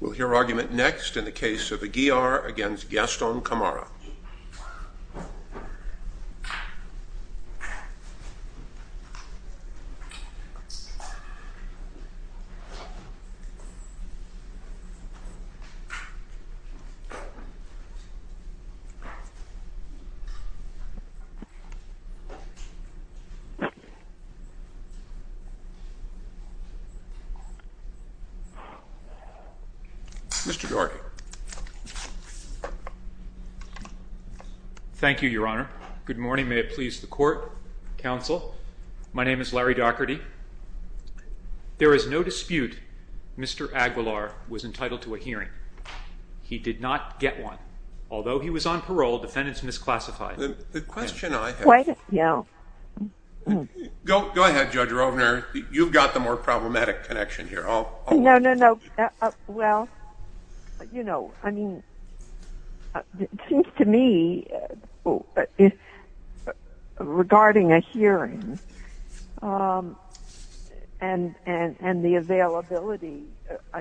We'll hear argument next in the case of Aguilar v. Gaston-Camara. Mr. Daugherty. Thank you, Your Honor. Good morning. May it please the court, counsel. My name is Larry Daugherty. There is no dispute Mr. Aguilar was entitled to a hearing. He did not get one. Although he was on parole, the defendant is misclassified. The question I have... Go ahead, Judge Rovner. You've got the more problematic connection here. No, no, no. Well, you know, I mean... It seems to me, regarding a hearing and the availability,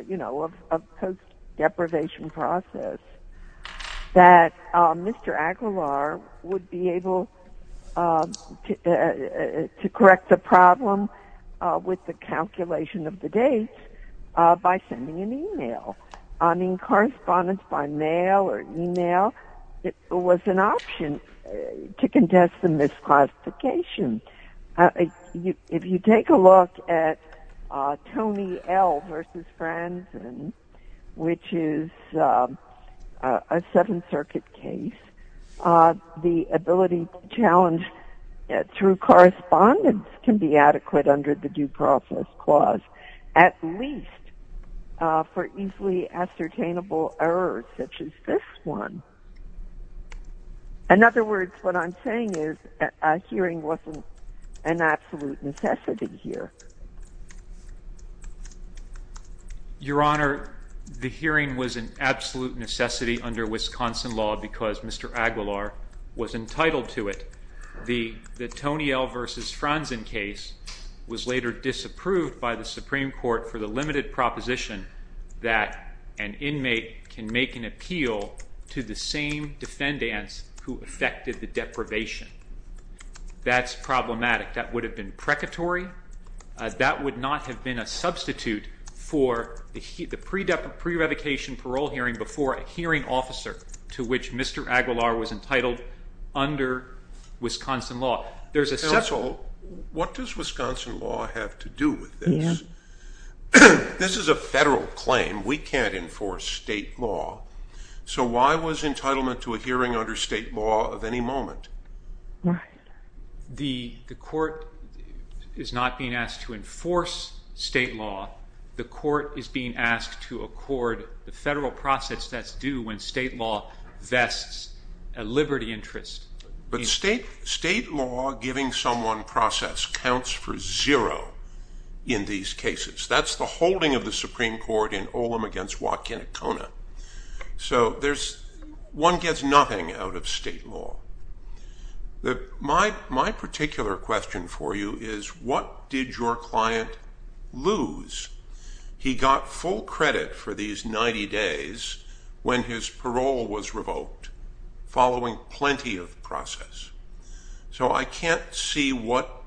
you know, of post-deprivation process, that Mr. Aguilar would be able to correct the problem with the calculation of the dates by sending an email. I mean, correspondence by mail or email was an option to contest the misclassification. If you take a look at Tony L. v. Franzen, which is a Seventh Circuit case, the ability to challenge through correspondence can be adequate under the Due Process Clause, at least for easily ascertainable errors such as this one. In other words, what I'm saying is a hearing wasn't an absolute necessity here. Your Honor, the hearing was an absolute necessity under Wisconsin law because Mr. Aguilar was entitled to it. The Tony L. v. Franzen case was later disapproved by the Supreme Court for the limited proposition that an inmate can make an appeal to the same defendants who affected the deprivation. That's problematic. That would have been precatory. That would not have been a substitute for the pre-revocation parole hearing before a hearing officer to which Mr. Aguilar was entitled under Wisconsin law. This is a federal claim. We can't enforce state law. So why was entitlement to a hearing under state law of any moment? The court is not being asked to enforce state law. The court is being asked to accord the federal process that's due when state law vests a liberty interest. But state law giving someone process counts for zero in these cases. That's the holding of the Supreme Court in Olam v. Wakinkona. So one gets nothing out of state law. My particular question for you is what did your client lose? He got full credit for these 90 days when his parole was revoked following plenty of process. So I can't see what,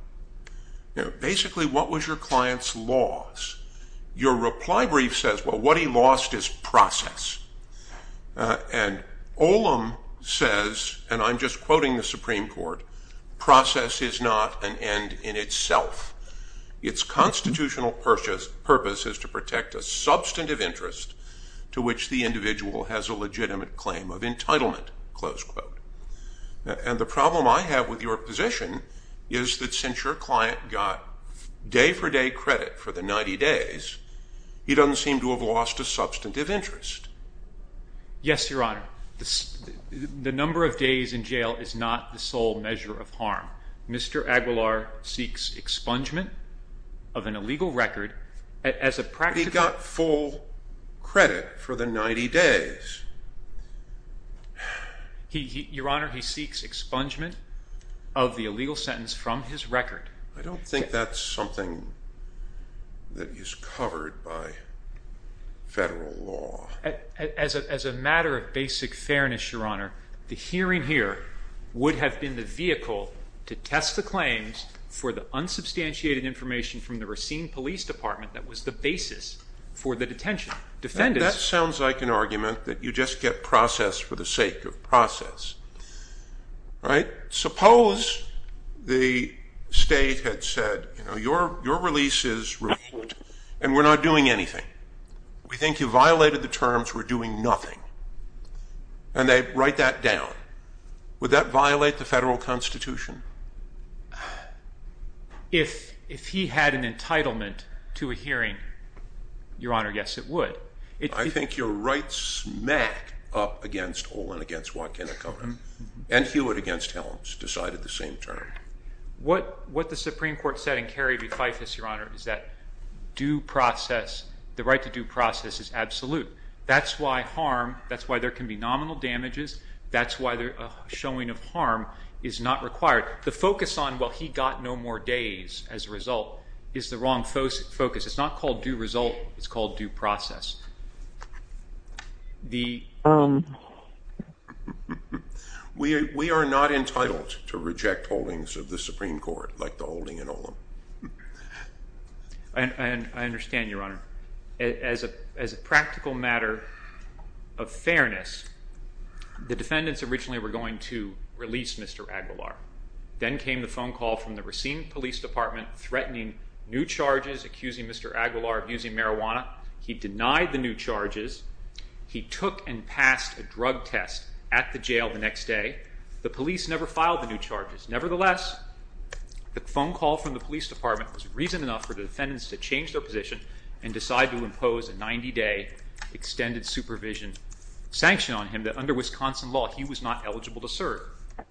basically, what was your client's loss? Your reply brief says, well, what he lost is process. And Olam says, and I'm just quoting the Supreme Court, process is not an end in itself. Its constitutional purpose is to protect a substantive interest to which the individual has a legitimate claim of entitlement, close quote. And the problem I have with your position is that since your client got day-for-day credit for the 90 days, he doesn't seem to have lost a substantive interest. Yes, Your Honor. The number of days in jail is not the sole measure of harm. Mr. Aguilar seeks expungement of an illegal record as a practical- But he got full credit for the 90 days. Your Honor, he seeks expungement of the illegal sentence from his record. I don't think that's something that is covered by federal law. As a matter of basic fairness, Your Honor, the hearing here would have been the vehicle to test the claims for the unsubstantiated information from the Racine Police Department that was the basis for the detention. That sounds like an argument that you just get process for the sake of process. Suppose the state had said, your release is revoked and we're not doing anything. We think you violated the terms, we're doing nothing. And they write that down. Would that violate the federal constitution? If he had an entitlement to a hearing, Your Honor, yes it would. I think you're right smack up against Olin, against Watkin, and Hewitt against Helms, decided the same term. What the Supreme Court said in Kerry v. Fyfus, Your Honor, is that due process, the right to due process is absolute. That's why harm, that's why there can be nominal damages, that's why a showing of harm is not required. The focus on, well, he got no more days as a result, is the wrong focus. It's not called due result, it's called due process. We are not entitled to reject holdings of the Supreme Court like the holding in Olin. I understand, Your Honor. As a practical matter of fairness, the defendants originally were going to release Mr. Aguilar. Then came the phone call from the Racine Police Department threatening new charges, accusing Mr. Aguilar of using marijuana. He denied the new charges. He took and passed a drug test at the jail the next day. The police never filed the new charges. Nevertheless, the phone call from the police department was reason enough for the defendants to change their position and decide to impose a 90-day extended supervision sanction on him that under Wisconsin law he was not eligible to serve.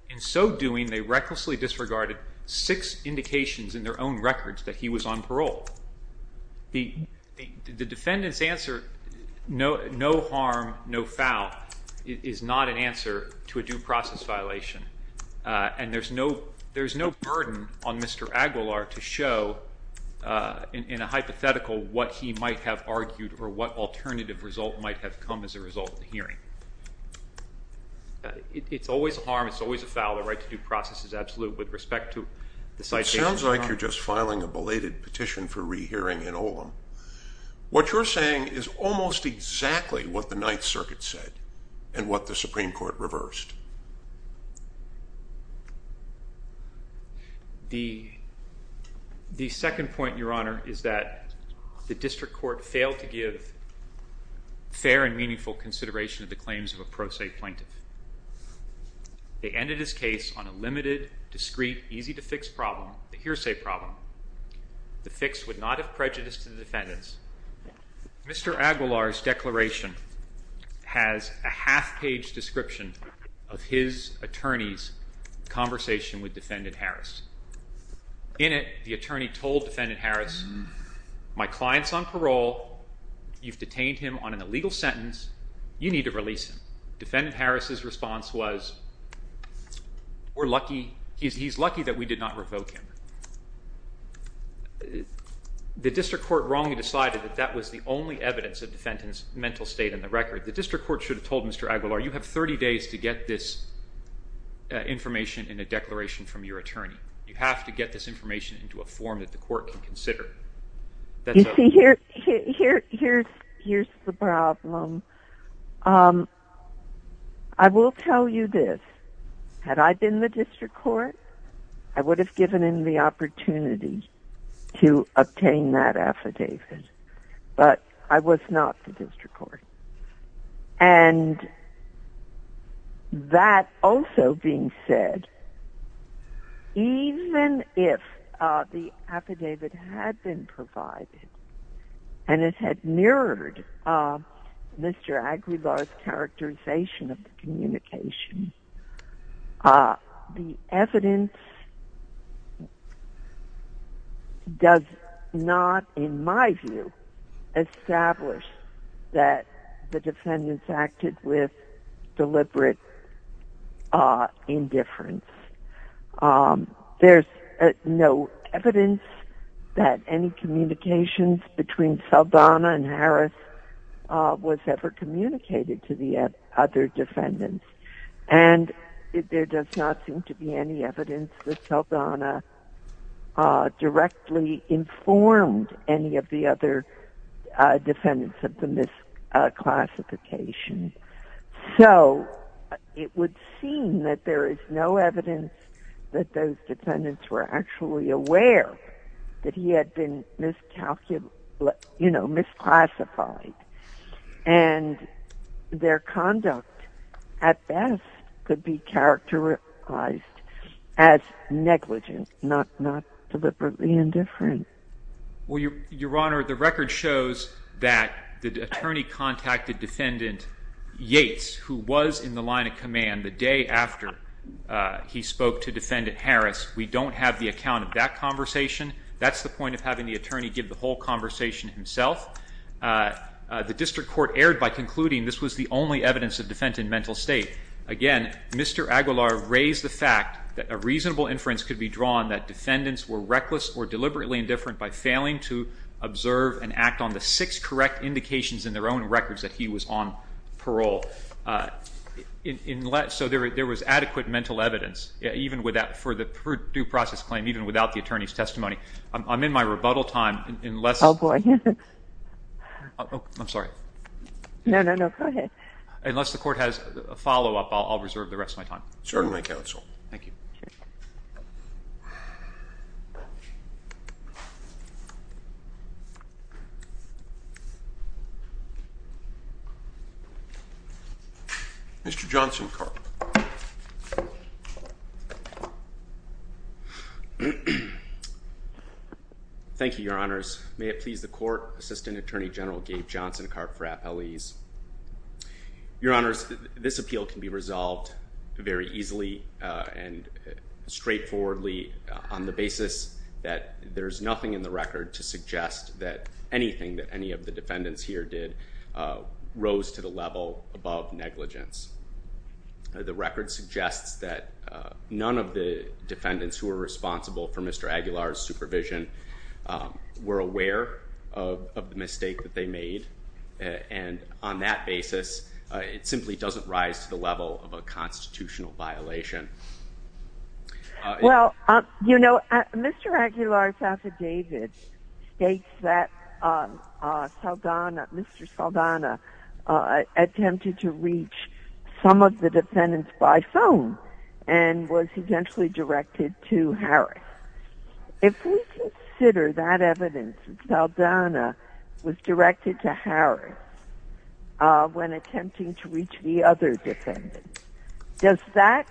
In so doing, they recklessly disregarded six indications in their own records that he was on parole. The defendant's answer, no harm, no foul, is not an answer to a due process violation, and there's no burden on Mr. Aguilar to show in a hypothetical what he might have argued or what alternative result might have come as a result of the hearing. It's always a harm, it's always a foul. The right to due process is absolute with respect to the citation. It sounds like you're just filing a belated petition for rehearing in Olam. What you're saying is almost exactly what the Ninth Circuit said and what the Supreme Court reversed. The second point, Your Honor, is that the district court failed to give fair and meaningful consideration to the claims of a pro se plaintiff. They ended his case on a limited, discreet, easy-to-fix problem, a hearsay problem. The fix would not have prejudiced the defendants. Mr. Aguilar's declaration has a half-page description of his attorney's conversation with Defendant Harris. In it, the attorney told Defendant Harris, my client's on parole, you've detained him on an illegal sentence, you need to release him. Defendant Harris's response was, we're lucky, he's lucky that we did not revoke him. The district court wrongly decided that that was the only evidence of defendant's mental state in the record. The district court should have told Mr. Aguilar, you have 30 days to get this information in a declaration from your attorney. You have to get this information into a form that the court can consider. You see, here's the problem. I will tell you this. Had I been the district court, I would have given him the opportunity to obtain that affidavit. But I was not the district court. And that also being said, even if the affidavit had been provided and it had mirrored Mr. Aguilar's characterization of the communication, the evidence does not, in my view, establish that the defendants acted with deliberate indifference. There's no evidence that any communications between Saldana and Harris was ever communicated to the other defendants. And there does not seem to be any evidence that Saldana directly informed any of the other defendants of the misclassification. So, it would seem that there is no evidence that those defendants were actually aware that he had been misclassified. And their conduct, at best, could be characterized as negligent, not deliberately indifferent. Well, Your Honor, the record shows that the attorney contacted Defendant Yates, who was in the line of command the day after he spoke to Defendant Harris. We don't have the account of that conversation. That's the point of having the attorney give the whole conversation himself. The district court erred by concluding this was the only evidence of defendant mental state. Again, Mr. Aguilar raised the fact that a reasonable inference could be drawn that defendants were reckless or deliberately indifferent by failing to observe and act on the six correct indications in their own records that he was on parole. So, there was adequate mental evidence for the due process claim, even without the attorney's testimony. I'm in my rebuttal time. Oh, boy. I'm sorry. No, no, no. Go ahead. Unless the court has a follow-up, I'll reserve the rest of my time. Certainly, counsel. Thank you. Mr. Johnson-Karp. Thank you, Your Honors. May it please the court, Assistant Attorney General Gabe Johnson-Karp for appellees. Your Honors, this appeal can be resolved very easily and straightforwardly on the basis that there is nothing in the record to suggest that anything that any of the defendants here did rose to the level above negligence. The record suggests that none of the defendants who were responsible for Mr. Aguilar's supervision were aware of the mistake that they made, and on that basis, it simply doesn't rise to the level of a constitutional violation. Well, you know, Mr. Aguilar's affidavit states that Mr. Saldana attempted to reach some of the defendants by phone and was essentially directed to Harris. If we consider that evidence that Saldana was directed to Harris when attempting to reach the other defendants, does that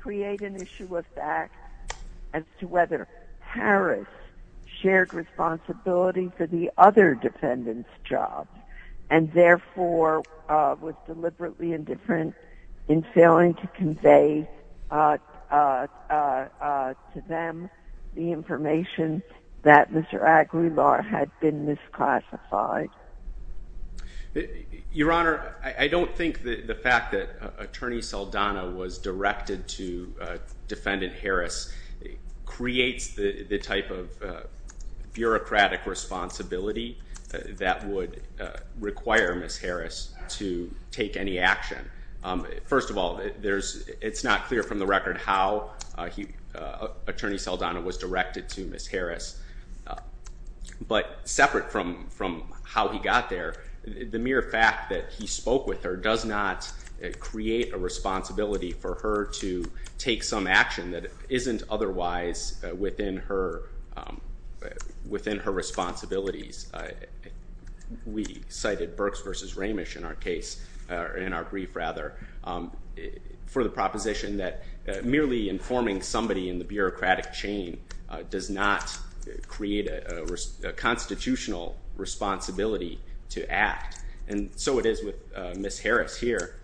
create an issue of fact as to whether Harris shared responsibility for the other defendants' jobs and therefore was deliberately indifferent in failing to convey to them the information that Mr. Aguilar had been misclassified? Your Honor, I don't think the fact that Attorney Saldana was directed to Defendant Harris creates the type of bureaucratic responsibility that would require Ms. Harris to take any action. First of all, it's not clear from the record how Attorney Saldana was directed to Ms. Harris, but separate from how he got there, the mere fact that he spoke with her does not create a responsibility for her to take some action that isn't otherwise within her responsibilities. We cited Berks v. Ramish in our brief for the proposition that merely informing somebody in the bureaucratic chain does not create a constitutional responsibility to act, and so it is with Ms. Harris here.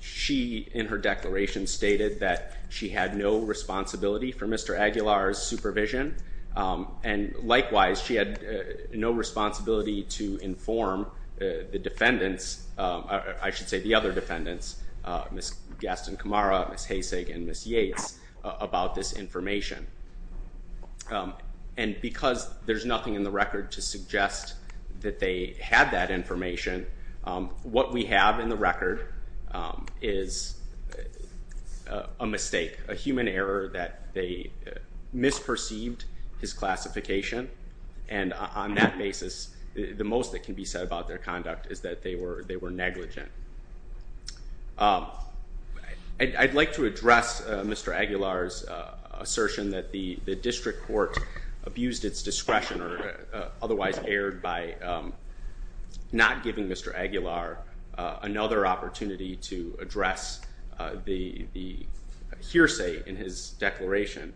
She, in her declaration, stated that she had no responsibility for Mr. Aguilar's supervision, and likewise, she had no responsibility to inform the defendants, I should say the other defendants, Ms. Gaston Camara, Ms. Haysig, and Ms. Yates, about this information. And because there's nothing in the record to suggest that they had that information, what we have in the record is a mistake, a human error that they misperceived his classification, and on that basis, the most that can be said about their conduct is that they were negligent. I'd like to address Mr. Aguilar's assertion that the district court abused its discretion or otherwise erred by not giving Mr. Aguilar another opportunity to address the hearsay in his declaration.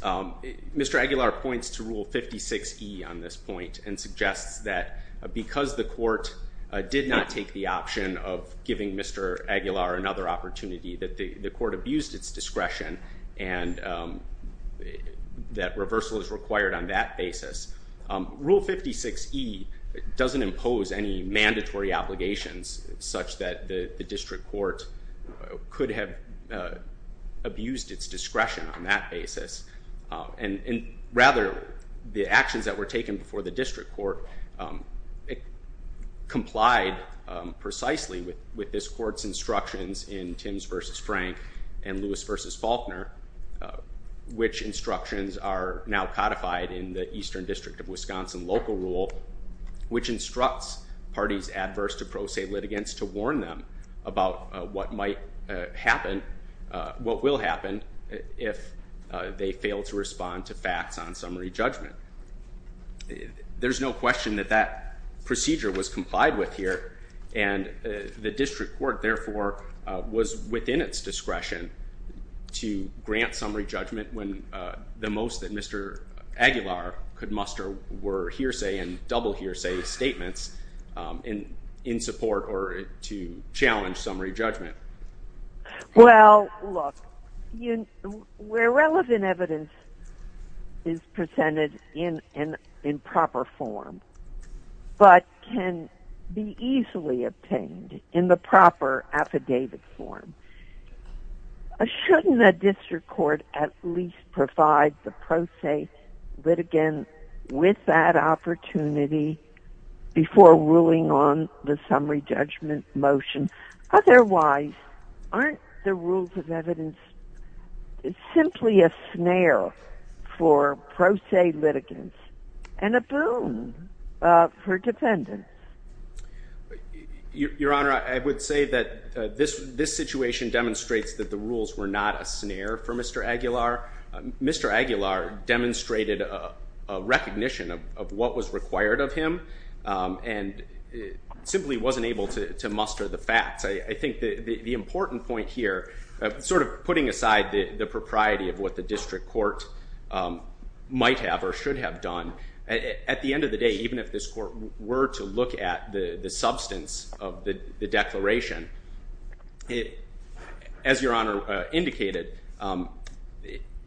Mr. Aguilar points to Rule 56E on this point and suggests that because the court did not take the option of giving Mr. Aguilar another opportunity, that the court abused its discretion and that reversal is required on that basis. Rule 56E doesn't impose any mandatory obligations such that the district court could have abused its discretion on that basis. And rather, the actions that were taken before the district court complied precisely with this court's instructions in Tims v. Frank and Lewis v. Faulkner, which instructions are now codified in the Eastern District of Wisconsin local rule, which instructs parties adverse to pro se litigants to warn them about what might happen, what will happen if they fail to respond to facts on summary judgment. There's no question that that procedure was complied with here, and the district court, therefore, was within its discretion to grant summary judgment when the most that Mr. Aguilar could muster were hearsay and double hearsay statements in support or to challenge summary judgment. Well, look, where relevant evidence is presented in proper form but can be easily obtained in the proper affidavit form, shouldn't a district court at least provide the pro se litigant with that opportunity before ruling on the summary judgment motion? Otherwise, aren't the rules of evidence simply a snare for pro se litigants and a boon for defendants? Your Honor, I would say that this situation demonstrates that the rules were not a snare for Mr. Aguilar. Mr. Aguilar demonstrated a recognition of what was required of him and simply wasn't able to muster the facts. I think the important point here, sort of putting aside the propriety of what the district court might have or should have done, at the end of the day, even if this court were to look at the substance of the declaration, as Your Honor indicated,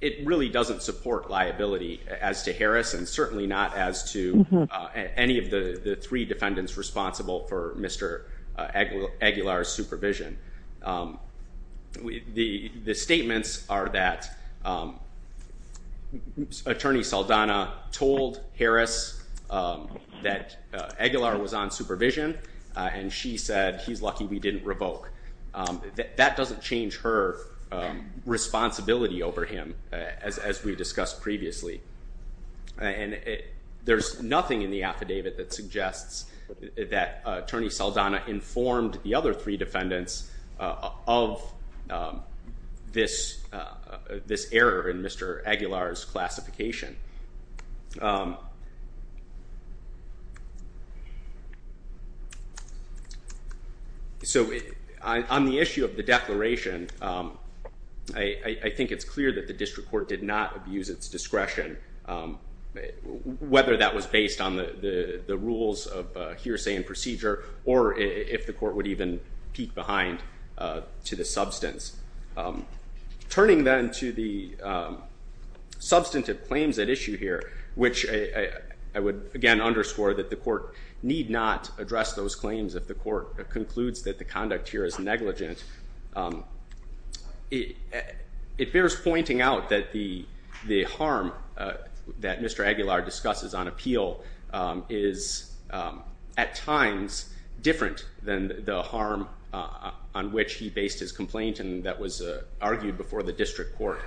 it really doesn't support liability as to Harris and certainly not as to any of the three defendants responsible for Mr. Aguilar's supervision. The statements are that Attorney Saldana told Harris that Aguilar was on supervision and she said, he's lucky we didn't revoke. That doesn't change her responsibility over him as we discussed previously. There's nothing in the affidavit that suggests that Attorney Saldana informed the other three defendants of this error in Mr. Aguilar's classification. So on the issue of the declaration, I think it's clear that the district court did not abuse its discretion, whether that was based on the rules of hearsay and procedure or if the court would even peek behind to the substance. Turning then to the substantive claims at issue here, which I would again underscore that the court need not address those claims if the court concludes that the conduct here is negligent. It bears pointing out that the harm that Mr. Aguilar discusses on appeal is at times different than the harm on which he based his complaint and that was argued before the district court.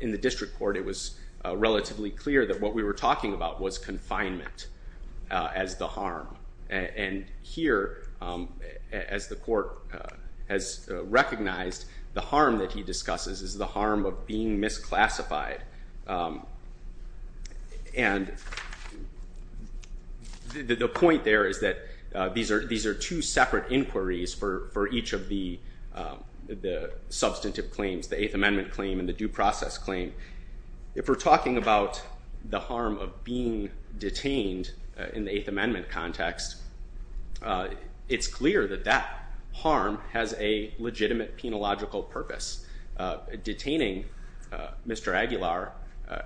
In the district court, it was relatively clear that what we were talking about was confinement as the harm. And here, as the court has recognized, the harm that he discusses is the harm of being misclassified. And the point there is that these are two separate inquiries for each of the substantive claims, the Eighth Amendment claim and the due process claim. If we're talking about the harm of being detained in the Eighth Amendment context, it's clear that that harm has a legitimate penological purpose. Detaining Mr. Aguilar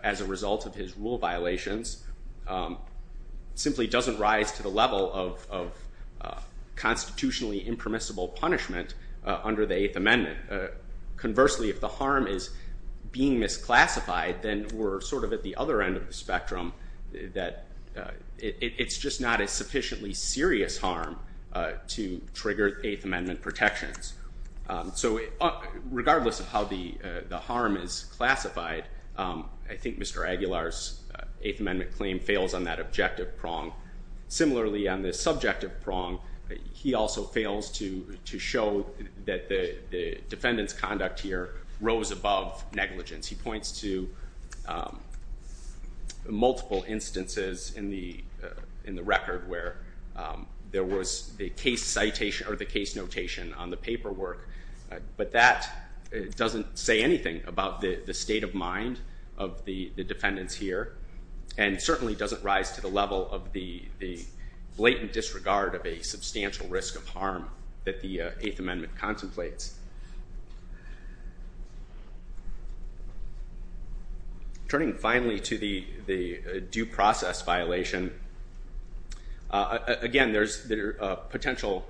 as a result of his rule violations simply doesn't rise to the level of constitutionally impermissible punishment under the Eighth Amendment. Conversely, if the harm is being misclassified, then we're sort of at the other end of the spectrum that it's just not a sufficiently serious harm to trigger Eighth Amendment protections. So regardless of how the harm is classified, I think Mr. Aguilar's Eighth Amendment claim fails on that objective prong. Similarly, on the subjective prong, he also fails to show that the defendant's conduct here rose above negligence. He points to multiple instances in the record where there was the case citation or the case notation on the paperwork, but that doesn't say anything about the state of mind of the defendants here, and certainly doesn't rise to the level of the blatant disregard of a substantial risk of harm that the Eighth Amendment contemplates. Turning finally to the due process violation, again, there's potential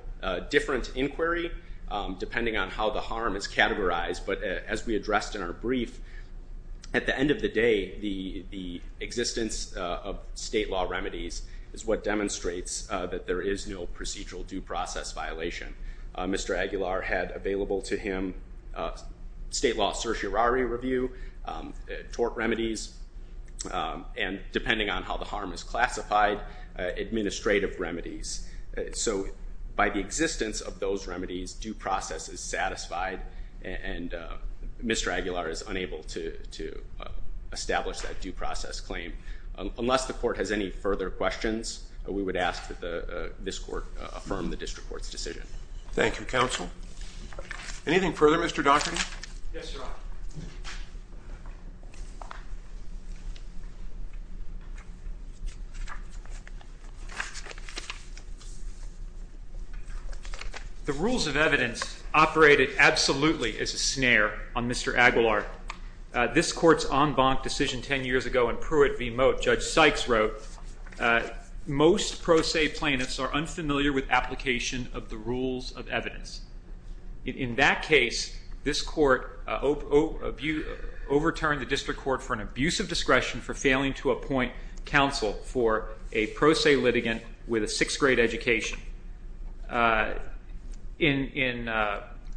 different inquiry depending on how the harm is categorized, but as we addressed in our brief, at the end of the day, the existence of state law remedies is what demonstrates that there is no procedural due process violation. Mr. Aguilar had available to him state law certiorari review, tort remedies, and depending on how the harm is classified, administrative remedies. So by the existence of those remedies, due process is satisfied, and Mr. Aguilar is unable to establish that due process claim. Unless the court has any further questions, we would ask that this court affirm the district court's decision. Thank you, counsel. Anything further, Mr. Doherty? Yes, Your Honor. The rules of evidence operated absolutely as a snare on Mr. Aguilar. This court's en banc decision 10 years ago in Pruitt v. Moat, Judge Sykes wrote, most pro se plaintiffs are unfamiliar with application of the rules of evidence. In that case, this court overturned the district court for an abuse of discretion for failing to appoint counsel for a pro se litigant with a 6th grade education. In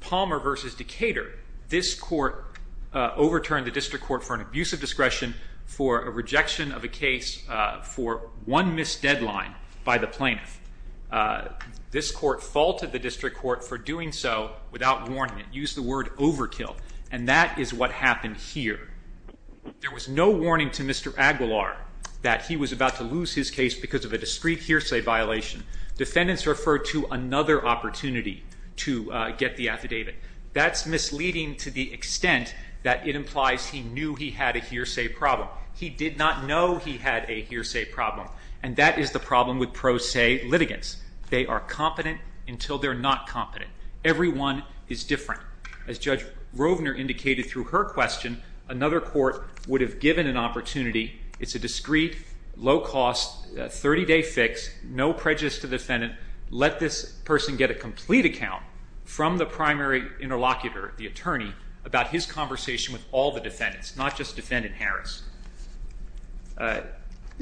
Palmer v. Decatur, this court overturned the district court for an abuse of discretion for a rejection of a case for one missed deadline by the plaintiff. This court faulted the district court for doing so without warning. It used the word overkill, and that is what happened here. There was no warning to Mr. Aguilar that he was about to lose his case because of a discreet hearsay violation. Defendants referred to another opportunity to get the affidavit. That's misleading to the extent that it implies he knew he had a hearsay problem. He did not know he had a hearsay problem, and that is the problem with pro se litigants. They are competent until they're not competent. Everyone is different. As Judge Rovner indicated through her question, another court would have given an opportunity. It's a discreet, low-cost, 30-day fix, no prejudice to the defendant. Let this person get a complete account from the primary interlocutor, the attorney, about his conversation with all the defendants, not just Defendant Harris.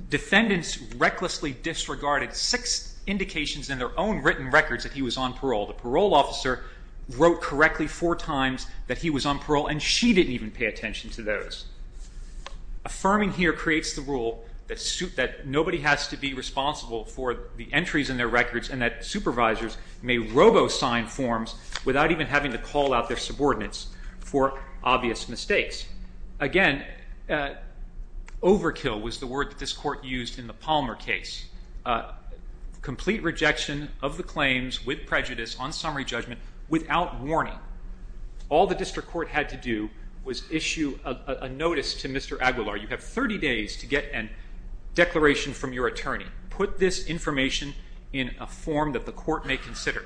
Defendants recklessly disregarded six indications in their own written records that he was on parole. The parole officer wrote correctly four times that he was on parole, and she didn't even pay attention to those. Affirming here creates the rule that nobody has to be responsible for the entries in their records and that supervisors may robo-sign forms without even having to call out their subordinates for obvious mistakes. Again, overkill was the word that this court used in the Palmer case. Complete rejection of the claims with prejudice on summary judgment without warning. All the district court had to do was issue a notice to Mr. Aguilar, you have 30 days to get a declaration from your attorney. Put this information in a form that the court may consider.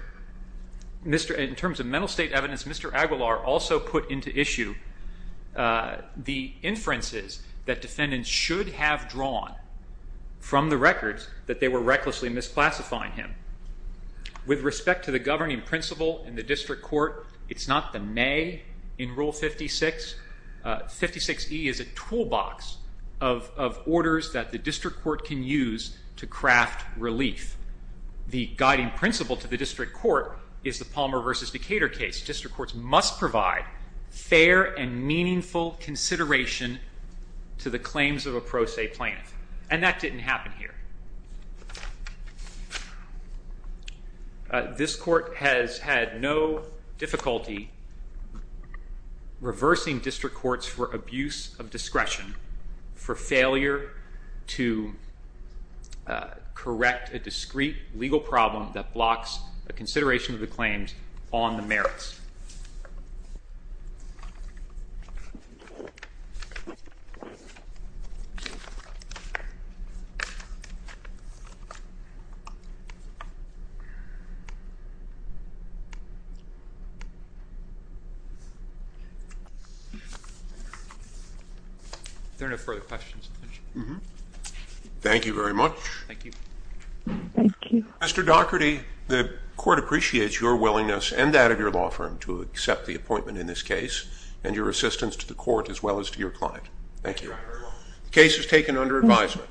In terms of mental state evidence, Mr. Aguilar also put into issue the inferences that defendants should have drawn from the records that they were recklessly misclassifying him. With respect to the governing principle in the district court, it's not the may in Rule 56. 56E is a toolbox of orders that the district court can use to craft relief. The guiding principle to the district court is the Palmer v. Decatur case. District courts must provide fair and meaningful consideration to the claims of a pro se plaintiff, and that didn't happen here. This court has had no difficulty reversing district courts for abuse of discretion, for failure to correct a discreet legal problem that blocks a consideration of the claims on the merits. Thank you very much. Mr. Dougherty, the court appreciates your willingness and that of your law firm to accept the appointment in this case and your assistance to the court as well as to your client. Thank you. The case is taken under advisement.